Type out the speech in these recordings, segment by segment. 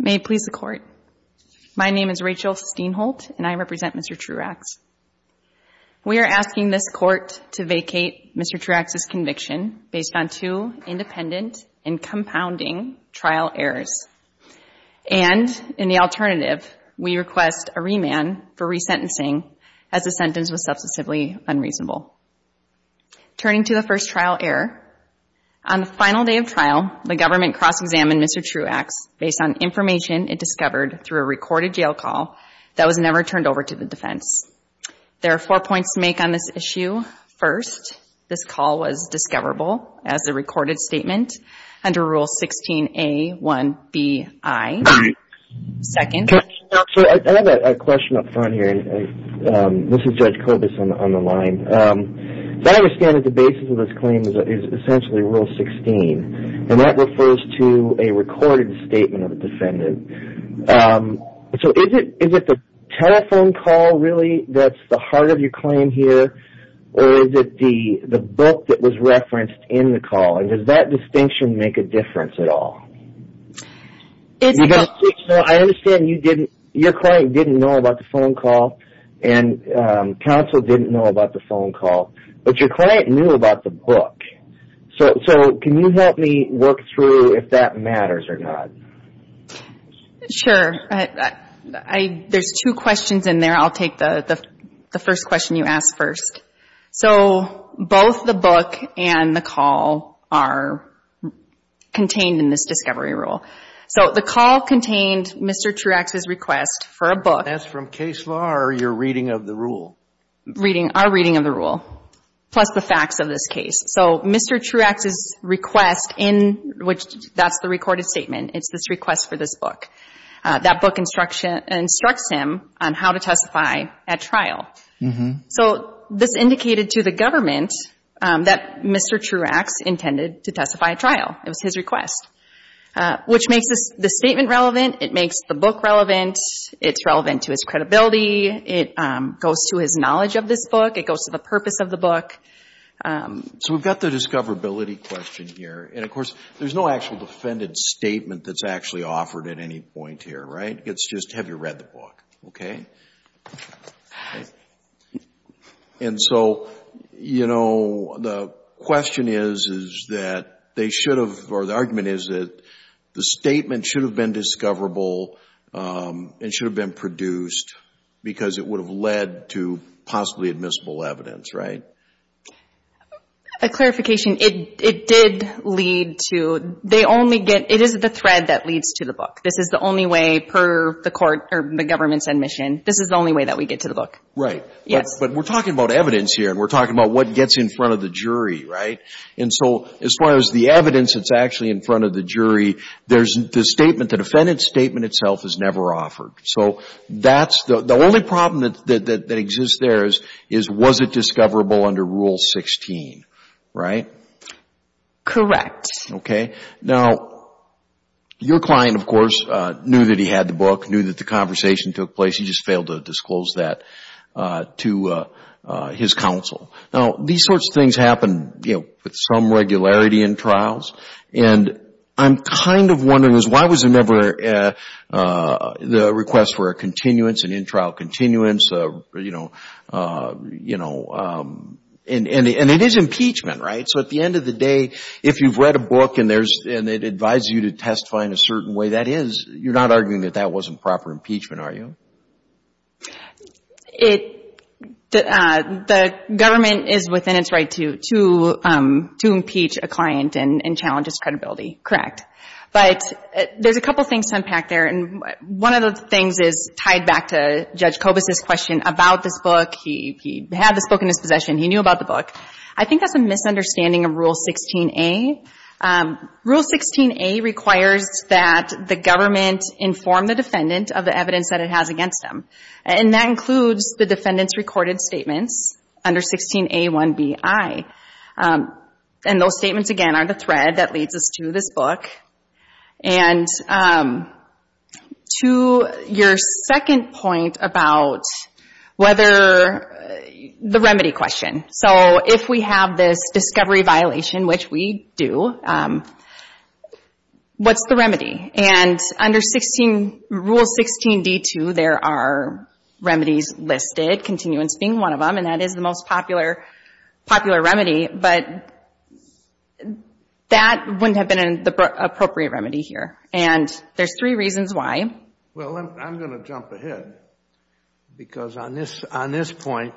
May it please the court. My name is Rachel Steinholt, and I represent Mr. Truax. We are asking this court to vacate Mr. Truax's conviction based on two independent and compounding trial errors. And in the alternative, we request a remand for resentencing as the sentence was substantively unreasonable. Turning to the first trial error, on the final day of trial, the government cross-examined Mr. Truax based on information it discovered through a recorded jail call that was never turned over to the defense. There are four points to make on this issue. First, this call was discoverable as a recorded statement under Rule 16A1BI. Second. I have a question up front here. This is Judge Kobus on the line. As I understand it, the basis of this claim is essentially Rule 16, and that refers to a recorded statement of a defendant. So is it the telephone call really that's the heart of your claim here, or is it the book that was referenced in the call? And does that distinction make a difference at all? I understand your client didn't know about the phone call, and counsel didn't know about the phone call, but your client knew about the book. So can you help me work through if that matters or not? Sure. There's two questions in there. I'll take the first question you asked first. So both the book and the call are contained in this discovery rule. So the call contained Mr. Truax's request for a book. That's from case law or your reading of the rule? Our reading of the rule, plus the facts of this case. So Mr. Truax's request in which that's the recorded statement, it's this request for this book. That book instructs him on how to testify at trial. So this indicated to the government that Mr. Truax intended to testify at trial. It was his request, which makes the statement relevant. It makes the book relevant. It's relevant to his credibility. It goes to his knowledge of this book. It goes to the purpose of the book. So we've got the discoverability question here, and of course, there's no actual defendant's actually offered at any point here, right? It's just have you read the book, okay? And so, you know, the question is, is that they should have, or the argument is that the statement should have been discoverable and should have been produced because it would have led to possibly admissible evidence, right? A clarification. It did lead to, they only get, it is the thread that leads to the book. This is the only way per the court, or the government's admission, this is the only way that we get to the book. Right. Yes. But we're talking about evidence here, and we're talking about what gets in front of the jury, right? And so as far as the evidence that's actually in front of the jury, there's the statement, the defendant's statement itself is never offered. So that's, the only problem that exists there is, was it discoverable under Rule 16, right? Correct. Okay. Now, your client, of course, knew that he had the book, knew that the conversation took place, he just failed to disclose that to his counsel. Now, these sorts of things happen with some regularity in trials, and I'm kind of wondering is why was it never the request for a continuance, an in-trial continuance, you know, and it is impeachment, right? So at the end of the day, if you've read a book and it advises you to testify in a certain way, that is, you're not arguing that that wasn't proper impeachment, are you? The government is within its right to impeach a client and challenge its credibility. Correct. But there's a couple things to unpack there, and one of the things is tied back to Judge Kobus' question about this book. He had this book in his possession, he knew about the book. I think that's a misunderstanding of Rule 16A. Rule 16A requires that the government inform the defendant of the evidence that it has against him, and that includes the defendant's recorded statements under 16A1Bi. And those statements, again, are the thread that leads us to this book. And to your second point about whether the remedy question. So if we have this discovery violation, which we do, what's the remedy? And under Rule 16D2, there are remedies listed, continuance being one of them, and that is the most popular remedy, but that wouldn't have been an appropriate remedy here. And there's three reasons why. Well, I'm going to jump ahead, because on this point,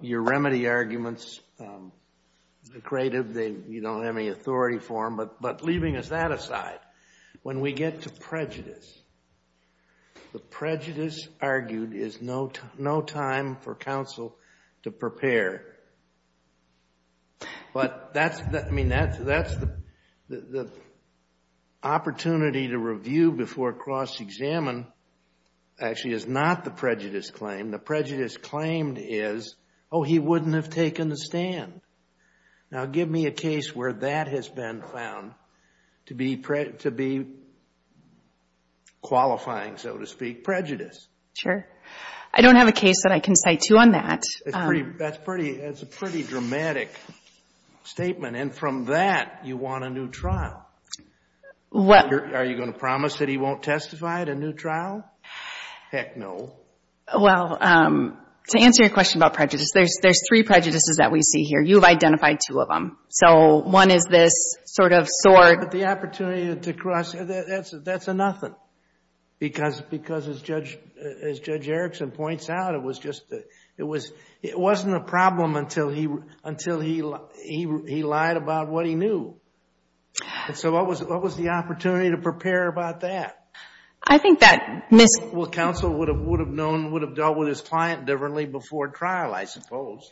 your remedy arguments, the creative, you don't have any authority for them. But leaving that aside, when we get to prejudice, the prejudice argued is no time for counsel to prepare. But that's the opportunity to review before cross-examine actually is not the prejudice claim. The prejudice claimed is, oh, he wouldn't have taken the stand. Now, give me a case where that has been found to be qualifying, so to speak, prejudice. Sure. I don't have a case that I can cite to on that. That's a pretty dramatic statement. And from that, you want a new trial. Are you going to promise that he won't testify at a new trial? Heck no. Well, to answer your question about prejudice, there's three prejudices that we see here. You have the opportunity to cross-examine. That's a nothing. Because as Judge Erickson points out, it wasn't a problem until he lied about what he knew. So what was the opportunity to prepare about that? Well, counsel would have dealt with his client differently before trial, I suppose.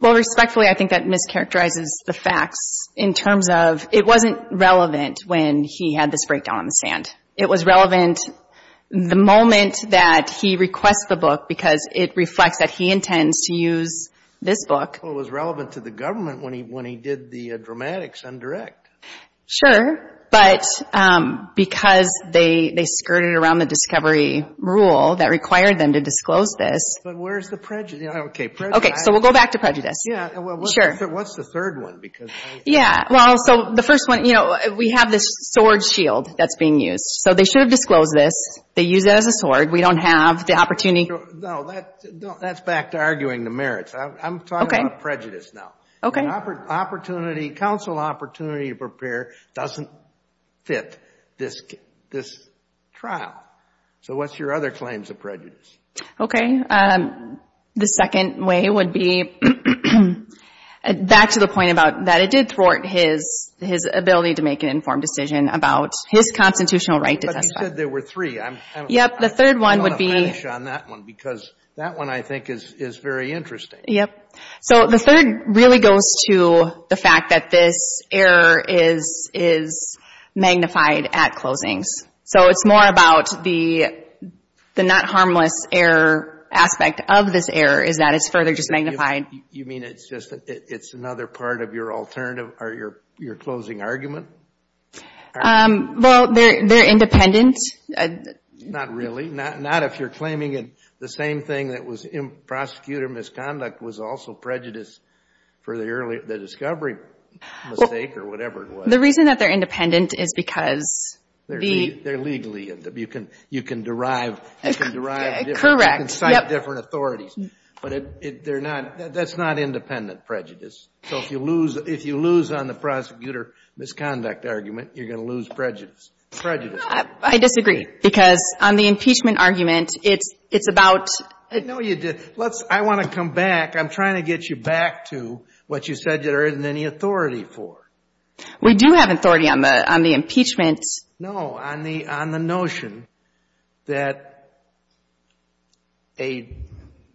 Well, respectfully, I think that mischaracterizes the facts in terms of it wasn't relevant when he had this breakdown on the stand. It was relevant the moment that he requests the book, because it reflects that he intends to use this book. Well, it was relevant to the government when he did the dramatics undirect. Sure. But because they skirted around the discovery rule that Yeah. Well, what's the third one? So the first one, you know, we have this sword shield that's being used. So they should have disclosed this. They use it as a sword. We don't have the opportunity. No, that's back to arguing the merits. I'm talking about prejudice now. Counsel opportunity to prepare doesn't fit this trial. So what's your other claims of prejudice? Okay. The second way would be back to the point about that. It did thwart his ability to make an informed decision about his constitutional right to testify. But you said there were three. I want to finish on that one, because that one, I think, is very interesting. Yep. So the third really goes to the fact that this error is magnified at closings. So it's more about the not harmless error aspect of this error is that it's further just magnified. You mean it's another part of your alternative or your closing argument? Well, they're independent. Not really. Not if you're claiming the same thing that prosecutor misconduct was also prejudice for the discovery mistake or whatever it was. The reason that they're independent is because... They're legally. You can derive... Correct. You can cite different authorities. But that's not independent prejudice. So if you lose on the prosecutor misconduct argument, you're going to lose prejudice. Prejudice. I disagree, because on the impeachment argument, it's about... No, you didn't. I want to come back. I'm trying to get you back to what you said there isn't any authority for. We do have authority on the impeachment. No. On the notion that a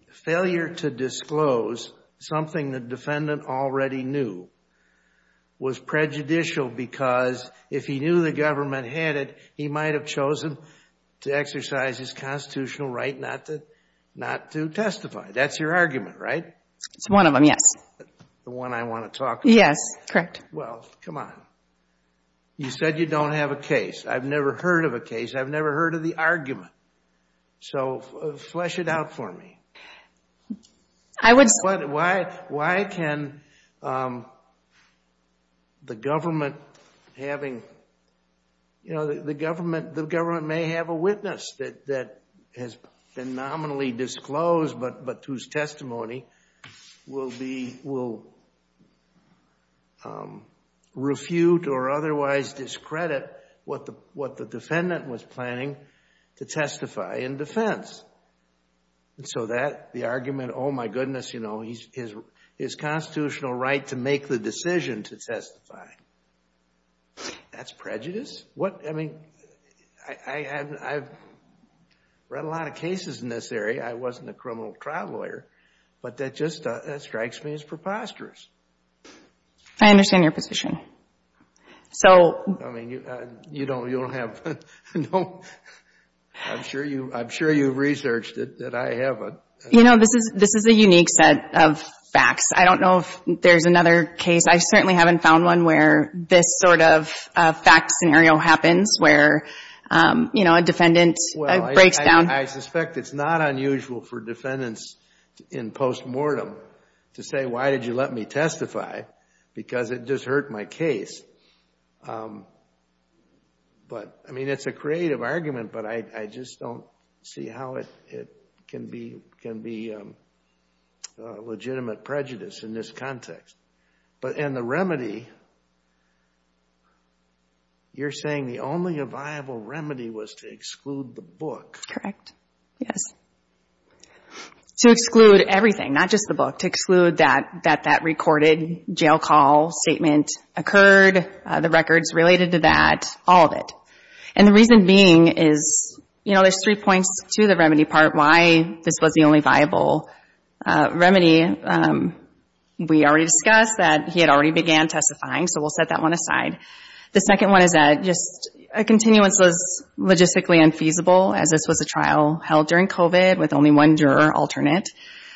failure to disclose something the defendant already knew was prejudicial, because if he knew the government had it, he might have chosen to exercise his testify. That's your argument, right? It's one of them, yes. The one I want to talk about? Yes, correct. Well, come on. You said you don't have a case. I've never heard of a case. I've never heard of the argument. So flesh it out for me. Why can the government having... The government may have a but whose testimony will refute or otherwise discredit what the defendant was planning to testify in defense. And so that, the argument, oh my goodness, his constitutional right to make the decision to testify. That's prejudice? I've read a lot of cases in this area. I wasn't a criminal trial lawyer, but that just strikes me as preposterous. I understand your position. I'm sure you've researched it, that I haven't. You know, this is a unique set of facts. I don't know if there's another case. I certainly haven't found one where this sort of fact scenario happens where a defendant breaks down. I suspect it's not unusual for defendants in postmortem to say, why did you let me testify? Because it just hurt my case. But, I mean, it's a creative argument, but I just don't see how it can be legitimate prejudice in this context. And the remedy, you're saying the only viable remedy was to exclude the book. Yes. To exclude everything, not just the book. To exclude that that recorded jail call statement occurred, the records related to that, all of it. And the reason being is, you know, there's three points to the remedy part, why this was the only viable remedy. We already discussed that he had already began testifying, so we'll set that one aside. The second one is that just a continuance was logistically unfeasible, as this was a trial held during COVID with only one juror alternate.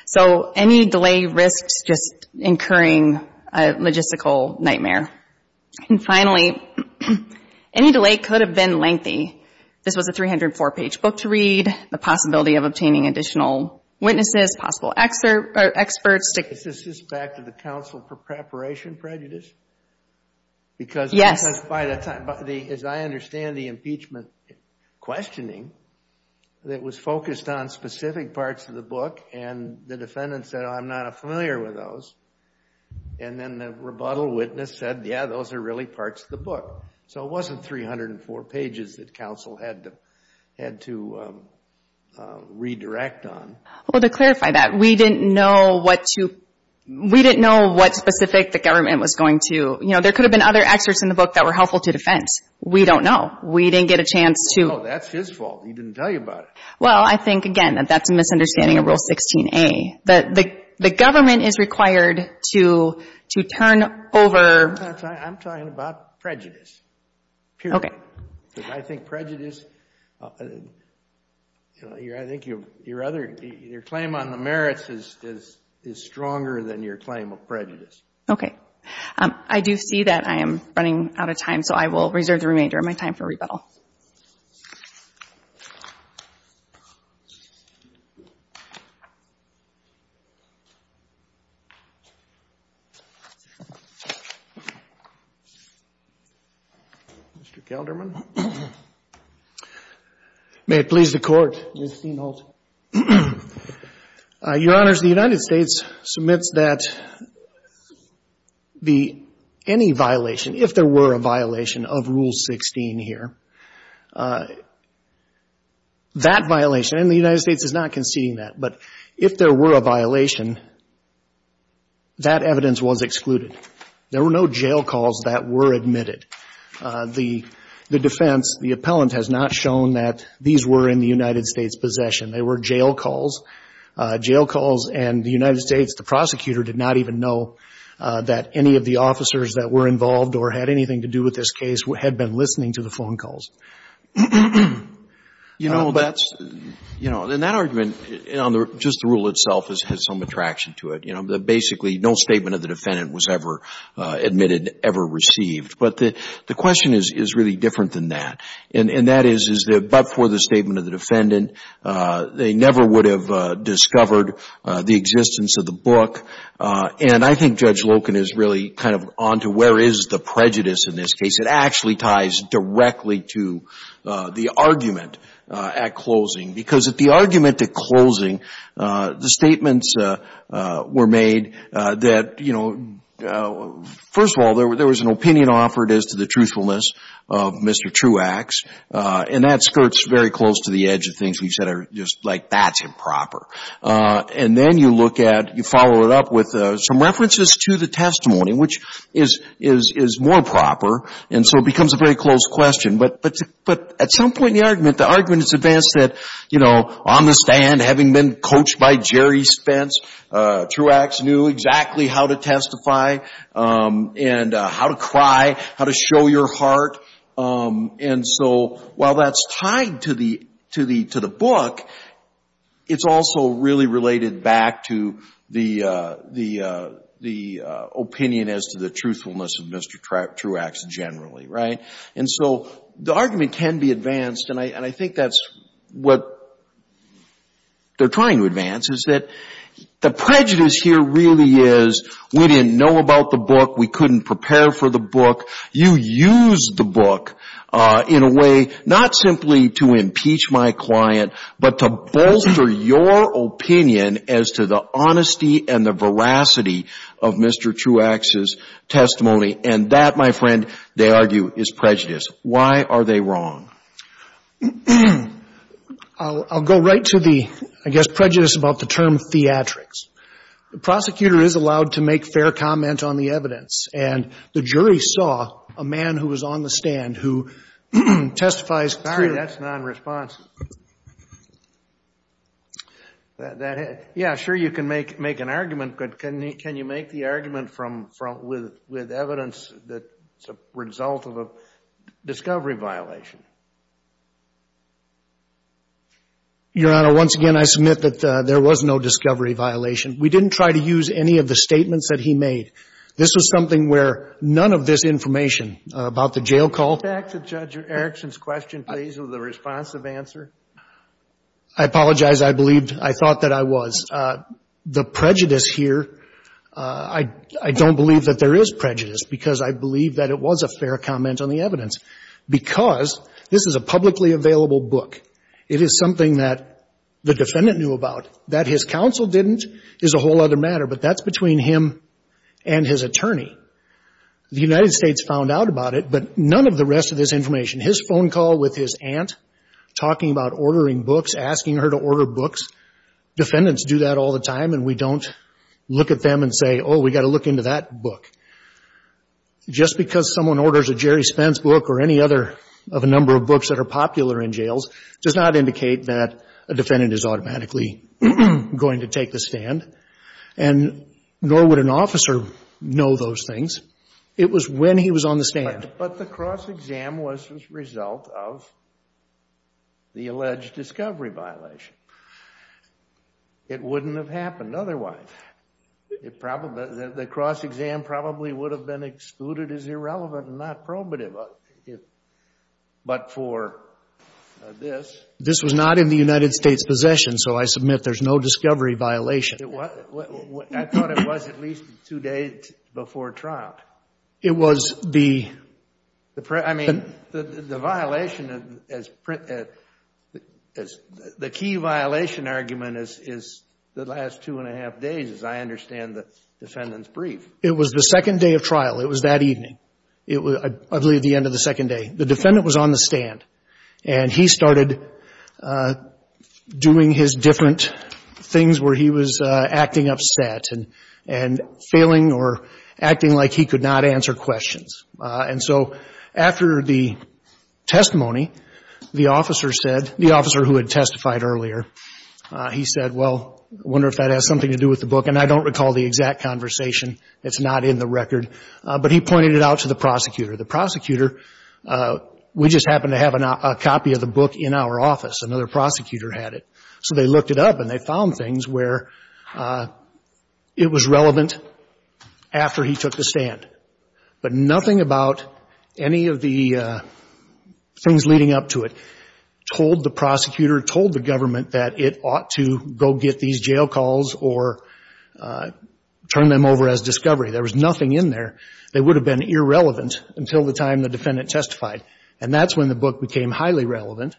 So any delay risks just incurring a logistical nightmare. And finally, any delay could have been lengthy. This was a 304-page book to read, the possibility of obtaining additional witnesses, possible experts. Is this back to the counsel for preparation prejudice? Because by the time, as I understand the impeachment questioning that was focused on specific parts of the book, and the defendant said, I'm not familiar with those. And then the rebuttal witness said, yeah, those are really parts of the book. So it wasn't 304 pages that counsel had to redirect on. Well, to clarify that, we didn't know what to, we didn't know what specific the government was going to, you know, there could have been other excerpts in the book that were helpful to defense. We don't know. We didn't get a chance to. No, that's his fault. He didn't tell you about it. Well, I think, again, that that's a misunderstanding of Rule 16a. That the government is required to turn over. I'm talking about prejudice, purely. Okay. I think prejudice, I think your claim on the merits is stronger than your claim of prejudice. Okay. I do see that I am running out of time. So I will reserve the remainder of my time for rebuttal. Mr. Kelderman. May it please the Court. Your Honors, the United States submits that the, any violation, if there were a violation of Rule 16 here, that violation, and the United States is not conceding that, but if there were a violation, that evidence was excluded. There were no jail calls that were admitted. The defense, the appellant has not shown that these were in the United States' possession. They were jail calls. Jail calls, and the United States, the prosecutor, did not even know that any of the officers that were involved or had anything to do with this case had been listening to the phone calls. You know, that's, you know, and that argument, just the rule itself has some attraction to it. You know, basically, no statement of the defendant was ever admitted, ever received. But the question is really different than that. And that is, is that but for the statement of the defendant, they never would have discovered the existence of the book. And I think Judge Loken is really kind of on to where is the prejudice in this case. It actually ties directly to the argument at closing. Because at the argument at closing, the statements were made that, you know, first of all, there was an opinion offered as to the truthfulness of Mr. Truax. And that skirts very close to the edge of things we've said are just like, that's improper. And then you look at, you follow it up with some references to the testimony, which is more proper. And so it becomes a very close question. But at some point in the argument, the argument is advanced that, you know, on the stand, having been coached by Jerry Spence, Truax knew exactly how to testify and how to cry, how to show your heart. And so while that's tied to the book, it's also really related back to the opinion as to the truthfulness of Mr. Truax generally, right? And I think that's what they're trying to advance is that the prejudice here really is, we didn't know about the book. We couldn't prepare for the book. You used the book in a way, not simply to impeach my client, but to bolster your opinion as to the honesty and the veracity of Mr. Truax's testimony. And that, my friend, they argue is prejudice. Why are they wrong? I'll go right to the, I guess, prejudice about the term theatrics. The prosecutor is allowed to make fair comment on the evidence. And the jury saw a man who was on the stand who testifies. Sorry, that's non-response. Yeah, sure, you can make an argument. But can you make the argument with evidence that's a result of a discovery violation? Your Honor, once again, I submit that there was no discovery violation. We didn't try to use any of the statements that he made. This was something where none of this information about the jail call. Back to Judge Erickson's question, please, with a responsive answer. I apologize. I believed, I thought that I was. The prejudice here, I don't believe that there is prejudice because I believe that it was a publicly available book. It is something that the defendant knew about. That his counsel didn't is a whole other matter. But that's between him and his attorney. The United States found out about it, but none of the rest of this information. His phone call with his aunt, talking about ordering books, asking her to order books. Defendants do that all the time. And we don't look at them and say, oh, we got to look into that book. Just because someone orders a Jerry Spence book or any other of a number of books that are popular in jails does not indicate that a defendant is automatically going to take the stand. And nor would an officer know those things. It was when he was on the stand. But the cross-exam was the result of the alleged discovery violation. It wouldn't have happened otherwise. The cross-exam probably would have been excluded as irrelevant and not probative. If, but for this. This was not in the United States' possession. So I submit there's no discovery violation. I thought it was at least two days before trial. It was the. I mean, the violation as the key violation argument is the last two and a half days, as I understand the defendant's brief. It was the second day of trial. It was that evening. It was, I believe, the end of the second day. The defendant was on the stand and he started doing his different things where he was acting upset and failing or acting like he could not answer questions. And so after the testimony, the officer said, the officer who had testified earlier, he said, well, I wonder if that has something to do with the book. And I don't recall the exact conversation. It's not in the record. But he pointed it out to the prosecutor. The prosecutor, we just happened to have a copy of the book in our office. Another prosecutor had it. So they looked it up and they found things where it was relevant after he took the stand. But nothing about any of the things leading up to it told the prosecutor, told the government that it ought to go get these jail calls or turn them over as discovery. There was nothing in there. They would have been irrelevant until the time the defendant testified. And that's when the book became highly relevant.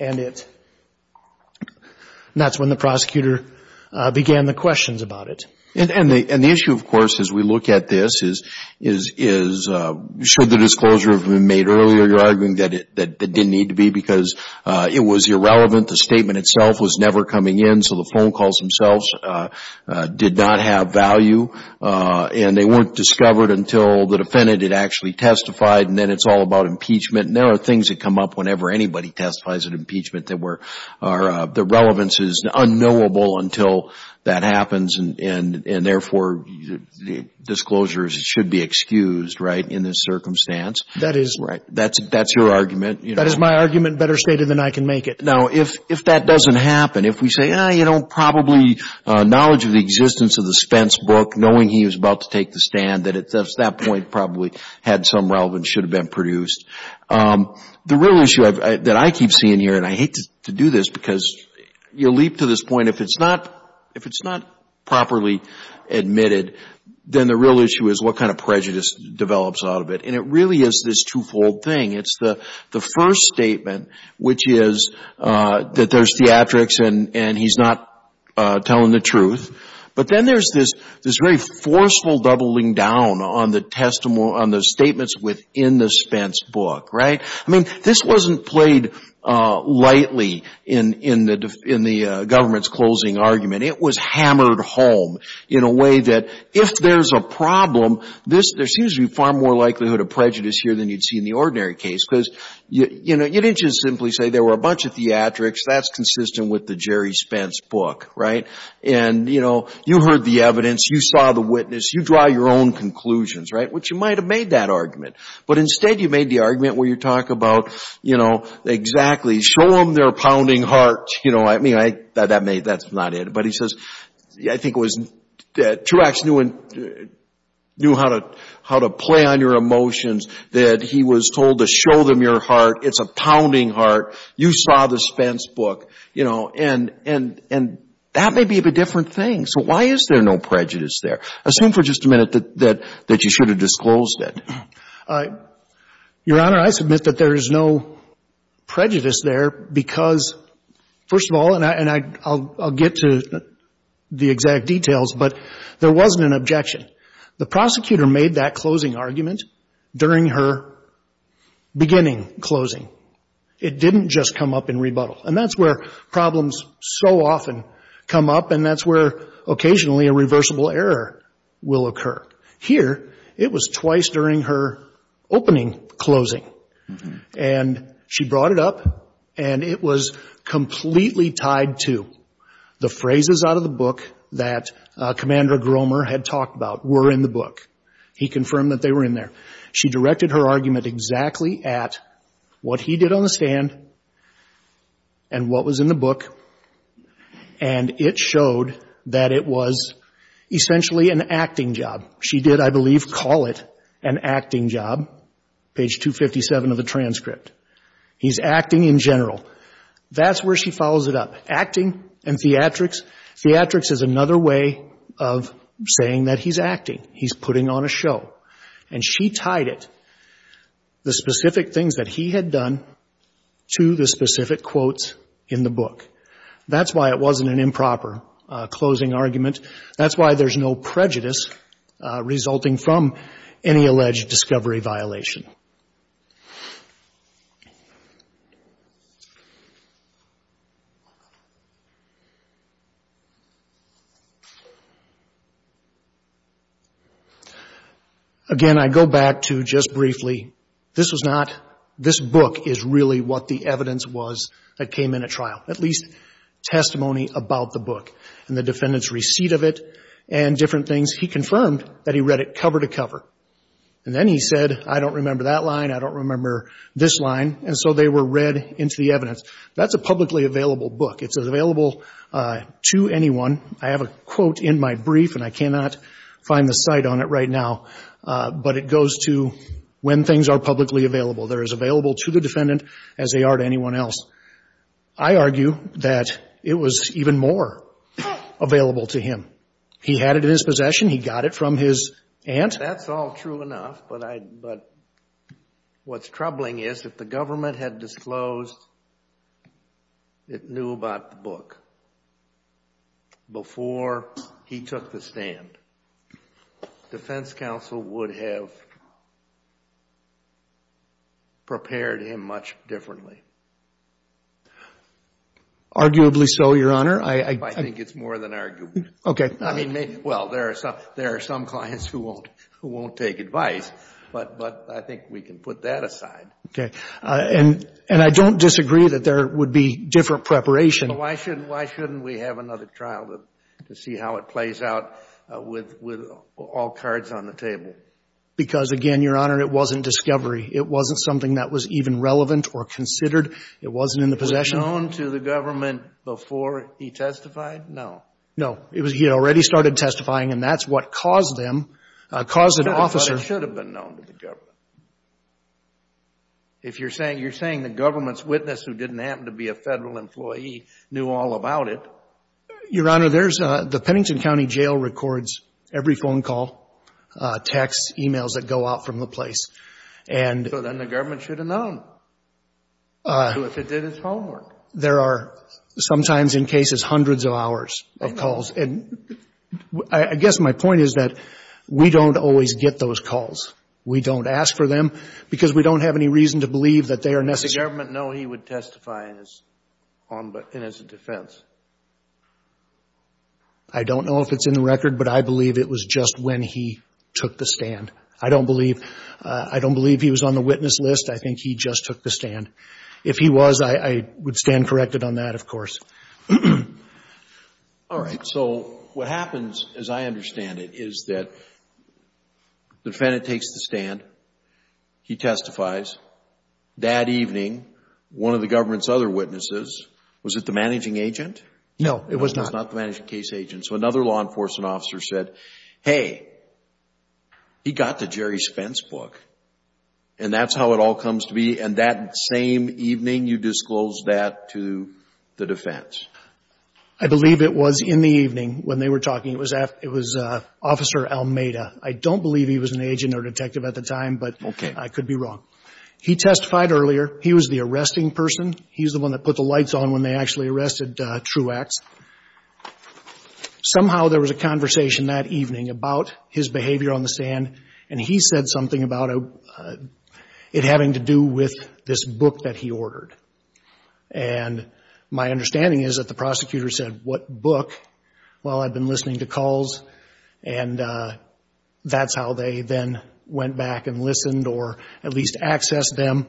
And that's when the prosecutor began the questions about it. And the issue, of course, as we look at this is, should the disclosure have been made earlier, you're arguing that it didn't need to be because it was irrelevant. The statement itself was never coming in. So the phone calls themselves did not have value. And they weren't discovered until the defendant had actually testified. And then it's all about impeachment. And there are things that come up whenever anybody testifies at impeachment that the relevance is unknowable until that happens. And therefore, disclosures should be excused, right, in this circumstance. That is. Right. That's your argument. That is my argument better stated than I can make it. Now, if that doesn't happen, if we say, you know, probably knowledge of the existence of the Spence book, knowing he was about to take the stand, that at that point probably had some relevance, should have been produced. The real issue that I keep seeing here, and I hate to do this because you leap to this point, if it's not properly admitted, then the real issue is what kind of prejudice develops out of it. And it really is this twofold thing. It's the first statement, which is that there's theatrics and he's not telling the truth. But then there's this very forceful doubling down on the statements within the Spence book, right? I mean, this wasn't played lightly in the government's closing argument. It was hammered home in a way that if there's a problem, there seems to be far more likelihood of prejudice here than you'd see in the ordinary case because, you know, you didn't just simply say there were a bunch of theatrics. That's consistent with the Jerry Spence book, right? And, you know, you heard the evidence. You saw the witness. You draw your own conclusions, right? Which you might have made that argument. But instead, you made the argument where you talk about, you know, exactly show them their pounding heart. You know, I mean, that's not it. But he says, I think it was Truax knew how to play on your emotions that he was told to show them your heart. It's a pounding heart. You saw the Spence book, you know, and that may be a different thing. So why is there no prejudice there? Assume for just a minute that you should have disclosed it. Your Honor, I submit that there is no prejudice there because, first of all, and I'll get to the exact details, but there wasn't an objection. The prosecutor made that closing argument during her beginning closing. It didn't just come up in rebuttal. And that's where problems so often come up, and that's where occasionally a reversible error will occur. Here, it was twice during her opening closing. And she brought it up, and it was completely tied to the phrases out of the book that Commander Gromer had talked about were in the book. He confirmed that they were in there. She directed her argument exactly at what he did on the stand and what was in the book. And it showed that it was essentially an acting job. She did, I believe, call it an acting job. Page 257 of the transcript. He's acting in general. That's where she follows it up. Acting and theatrics. Theatrics is another way of saying that he's acting. He's putting on a show. And she tied it, the specific things that he had done, to the specific quotes in the transcript. That's why it wasn't an improper closing argument. That's why there's no prejudice resulting from any alleged discovery violation. Again, I go back to just briefly, this was not, this book is really what the evidence was that came in at trial. At least testimony about the book and the defendant's receipt of it and different things. He confirmed that he read it cover to cover. And then he said, I don't remember that line. I don't remember this line. And so they were read into the evidence. That's a publicly available book. It's available to anyone. I have a quote in my brief and I cannot find the site on it right now. But it goes to when things are publicly available. They're as available to the defendant as they are to anyone else. I argue that it was even more available to him. He had it in his possession. He got it from his aunt. That's all true enough. But what's troubling is if the government had disclosed it knew about the book before he took the stand, defense counsel would have prepared him much differently. Arguably so, Your Honor. I think it's more than arguably. Okay. I mean, well, there are some clients who won't take advice. But I think we can put that aside. Okay. And I don't disagree that there would be different preparation. Why shouldn't we have another trial to see how it plays out with all cards on the table? Because again, Your Honor, it wasn't discovery. It wasn't something that was even relevant or considered. It wasn't in the possession. Was it known to the government before he testified? No. No. It was he already started testifying and that's what caused them, caused an officer. But it should have been known to the government. If you're saying the government's witness who didn't happen to be a federal employee knew all about it. Your Honor, the Pennington County Jail records every phone call, texts, emails that go out from the place. So then the government should have known. If it did his homework. There are sometimes in cases hundreds of hours of calls. And I guess my point is that we don't always get those calls. We don't ask for them because we don't have any reason to believe that they are necessary. Did the government know he would testify in his defense? I don't know if it's in the record, but I believe it was just when he took the stand. I don't believe he was on the witness list. I think he just took the stand. If he was, I would stand corrected on that, of course. All right. So what happens, as I understand it, is that the defendant takes the stand. He testifies. That evening, one of the government's other witnesses, was it the managing agent? No, it was not. It was not the managing case agent. So another law enforcement officer said, hey, he got the Jerry Spence book. And that's how it all comes to be. And that same evening, you disclosed that to the defense. I believe it was in the evening when they were talking. It was Officer Almeida. I don't believe he was an agent or detective at the time, but I could be wrong. He testified earlier. He was the arresting person. He's the one that put the lights on when they actually arrested Truax. Somehow, there was a conversation that evening about his behavior on the stand. And he said something about it having to do with this book that he ordered. And my understanding is that the prosecutor said, what book? Well, I've been listening to calls. And that's how they then went back and listened or at least accessed them.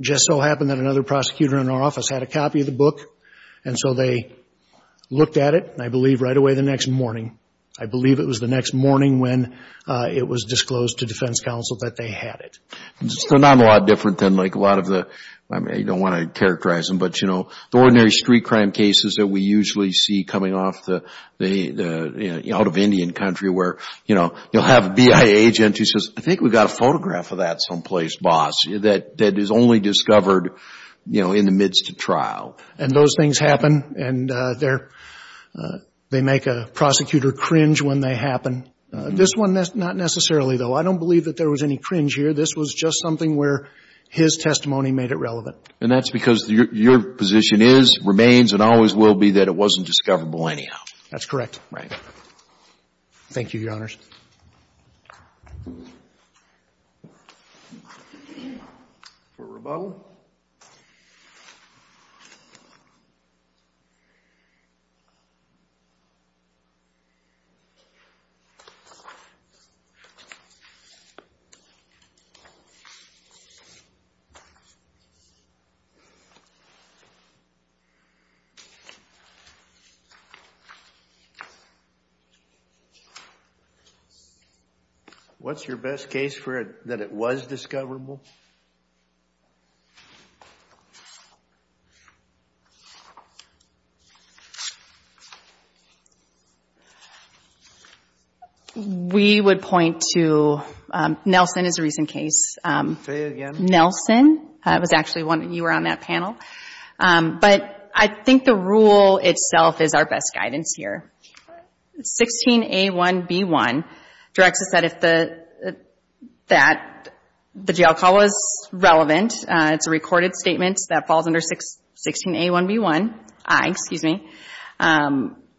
Just so happened that another prosecutor in our office had a copy of the book. And so they looked at it, I believe, right away the next morning. I believe it was the next morning when it was disclosed to defense counsel that they had it. It's still not a lot different than like a lot of the... I mean, I don't want to characterize them, but you know, the ordinary street crime cases that we usually see coming out of Indian country where, you know, you'll have a BIA agent who says, I think we've got a photograph of that someplace, boss, and those things happen. And they make a prosecutor cringe when they happen. This one, not necessarily, though. I don't believe that there was any cringe here. This was just something where his testimony made it relevant. And that's because your position is, remains, and always will be that it wasn't discoverable anyhow. That's correct. Right. Thank you, Your Honors. For rebuttal. Okay. What's your best case for it, that it was discoverable? I would point to... Nelson is a recent case. Say it again. Nelson was actually one that you were on that panel. But I think the rule itself is our best guidance here. 16A1B1 directs us that if the... that the jail call was relevant, it's a recorded statement that falls under 16A1B1. I, excuse me.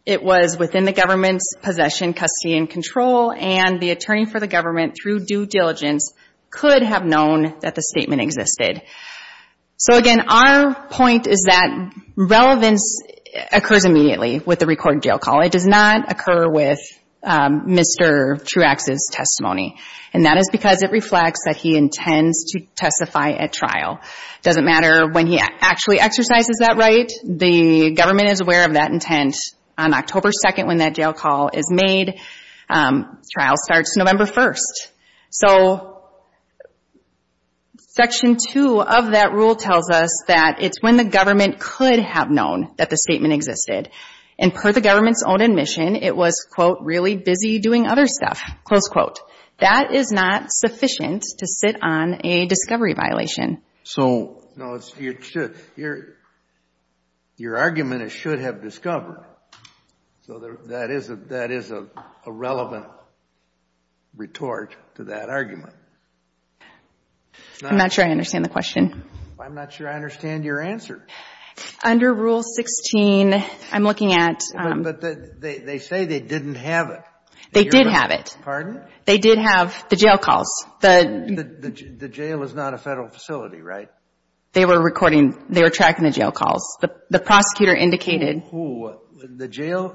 It was within the government's possession, custody, and control. And the attorney for the government, through due diligence, could have known that the statement existed. So again, our point is that relevance occurs immediately with the recorded jail call. It does not occur with Mr. Truax's testimony. And that is because it reflects that he intends to testify at trial. It doesn't matter when he actually exercises that right. The government is aware of that intent on October 2nd when that jail call is made. Trial starts November 1st. So Section 2 of that rule tells us that it's when the government could have known that the statement existed. And per the government's own admission, it was, quote, really busy doing other stuff, close quote. That is not sufficient to sit on a discovery violation. So, no, it's... Your argument is should have discovered. So that is a relevant retort to that argument. I'm not sure I understand the question. I'm not sure I understand your answer. Under Rule 16, I'm looking at... They say they didn't have it. They did have it. Pardon? They did have the jail calls. The jail is not a federal facility, right? They were recording. They were tracking the jail calls. The prosecutor indicated... Who? The jail?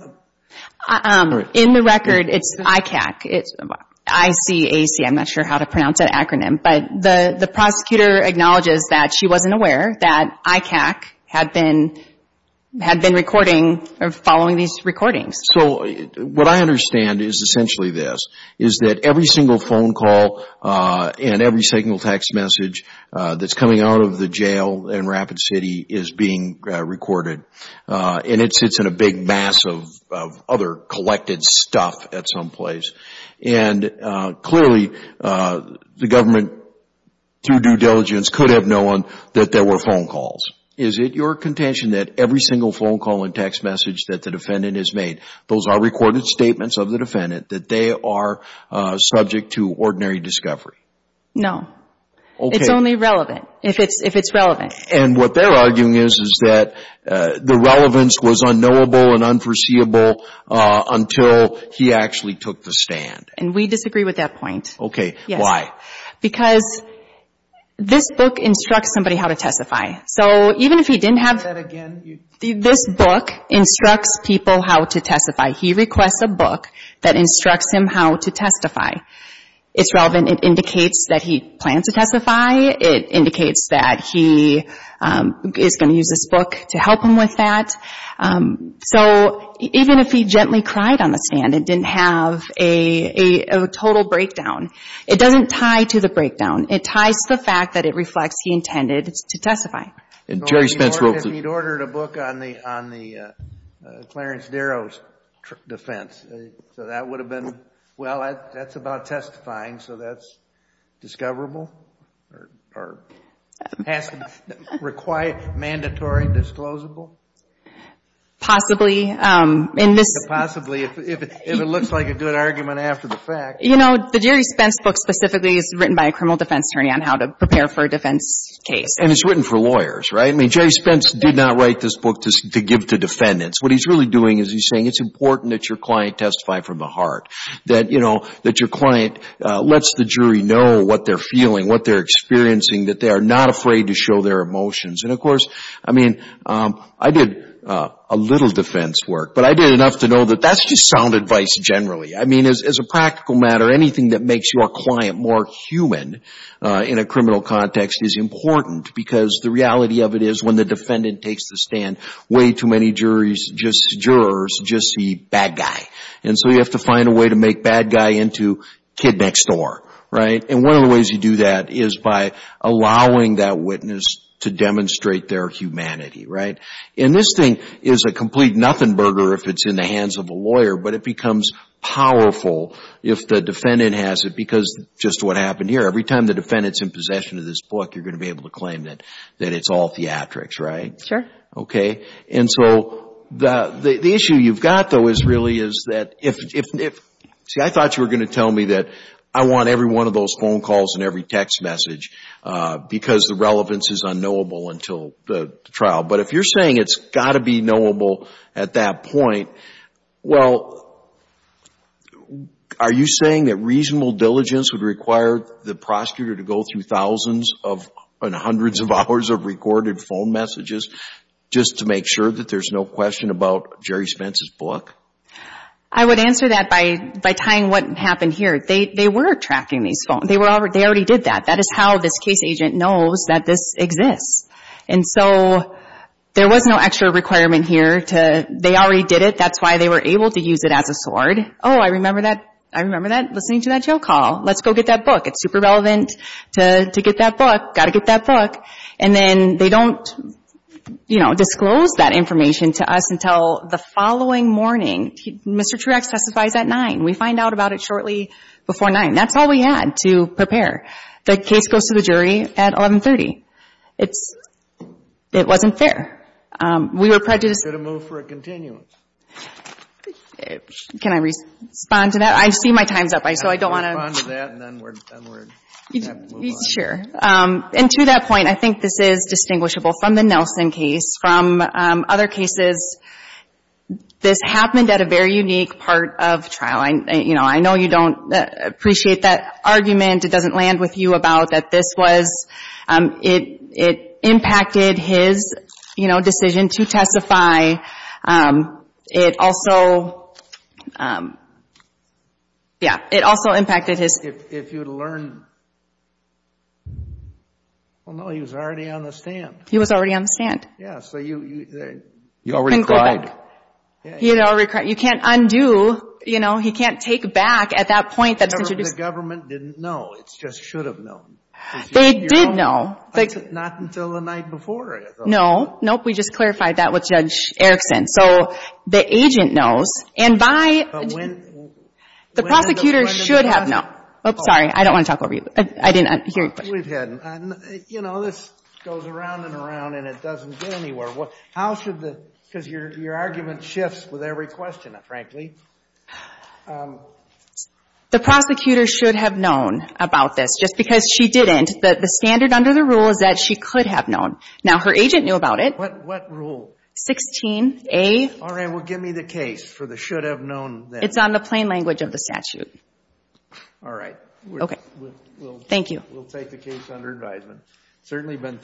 In the record, it's ICAC. I-C-A-C, I'm not sure how to pronounce that acronym. But the prosecutor acknowledges that she wasn't aware that ICAC had been recording or following these recordings. So, what I understand is essentially this, is that every single phone call and every single text message that's coming out of the jail in Rapid City is being recorded. And it sits in a big mass of other collected stuff at some place. And clearly, the government, through due diligence, could have known that there were phone calls. Is it your contention that every single phone call and text message that the defendant has made, those are recorded statements of the defendant, that they are subject to ordinary discovery? No. It's only relevant, if it's relevant. And what they're arguing is, is that the relevance was unknowable and unforeseeable until he actually took the stand. And we disagree with that point. Okay, why? Because this book instructs somebody how to testify. So, even if he didn't have... Instructs people how to testify. He requests a book that instructs him how to testify. It's relevant. It indicates that he plans to testify. It indicates that he is going to use this book to help him with that. So, even if he gently cried on the stand and didn't have a total breakdown, it doesn't tie to the breakdown. It ties to the fact that it reflects he intended to testify. And Jerry Spence wrote... He'd ordered a book on the Clarence Darrow's defense. So, that would have been... Well, that's about testifying. So, that's discoverable? Or has to require mandatory disclosable? Possibly. Possibly, if it looks like a good argument after the fact. You know, the Jerry Spence book specifically is written by a criminal defense attorney on how to prepare for a defense case. And it's written for lawyers, right? I mean, Jerry Spence did not write this book to give to defendants. What he's really doing is he's saying it's important that your client testify from the heart. That, you know, that your client lets the jury know what they're feeling, what they're experiencing, that they are not afraid to show their emotions. And of course, I mean, I did a little defense work, but I did enough to know that that's just sound advice generally. I mean, as a practical matter, anything that makes your client more human in a criminal context is important because the reality of it is when the defendant takes the stand, way too many jurors just see bad guy. And so, you have to find a way to make bad guy into kid next door, right? And one of the ways you do that is by allowing that witness to demonstrate their humanity, right? And this thing is a complete nothing burger if it's in the hands of a lawyer, but it becomes powerful if the defendant has it because just what happened here. Every time the defendant's in possession of this book, you're going to be able to claim that it's all theatrics, right? Sure. Okay. And so, the issue you've got though is really is that if... See, I thought you were going to tell me that I want every one of those phone calls and every text message because the relevance is unknowable until the trial. But if you're saying it's got to be knowable at that point, well, are you saying that reasonable diligence would require the prosecutor to go through thousands of hundreds of hours of recorded phone messages just to make sure that there's no question about Jerry Spence's book? I would answer that by tying what happened here. They were tracking these phones. They already did that. That is how this case agent knows that this exists. And so, there was no extra requirement here to... They already did it. That's why they were able to use it as a sword. Oh, I remember that. I remember that. Listening to that jail call. Let's go get that book. It's super relevant to get that book. Got to get that book. And then, they don't, you know, disclose that information to us until the following morning. Mr. Truax testifies at 9. We find out about it shortly before 9. That's all we had to prepare. The case goes to the jury at 1130. It's... It wasn't fair. We were prejudiced... You should have moved for a continuum. Can I respond to that? I see my time's up, so I don't want to... And then we're... Sure. And to that point, I think this is distinguishable from the Nelson case. From other cases, this happened at a very unique part of trial. I, you know, I know you don't appreciate that argument. It doesn't land with you about that this was... It impacted his, you know, decision to testify. It also... If you'd learned... Well, no, he was already on the stand. He was already on the stand. Yeah, so you... You already cried. He had already cried. You can't undo, you know, he can't take back at that point that's introduced. The government didn't know. It just should have known. They did know. Not until the night before, I thought. No. Nope, we just clarified that with Judge Erickson. So, the agent knows. And by... The prosecutor should have known. Sorry, I don't want to talk over you. I didn't hear your question. We've had... You know, this goes around and around, and it doesn't get anywhere. How should the... Because your argument shifts with every question, frankly. The prosecutor should have known about this. Just because she didn't, the standard under the rule is that she could have known. Now, her agent knew about it. What rule? 16A... All right, well, give me the case for the should have known. It's on the plain language of the statute. All right. Thank you. We'll take the case under advisement. Certainly been...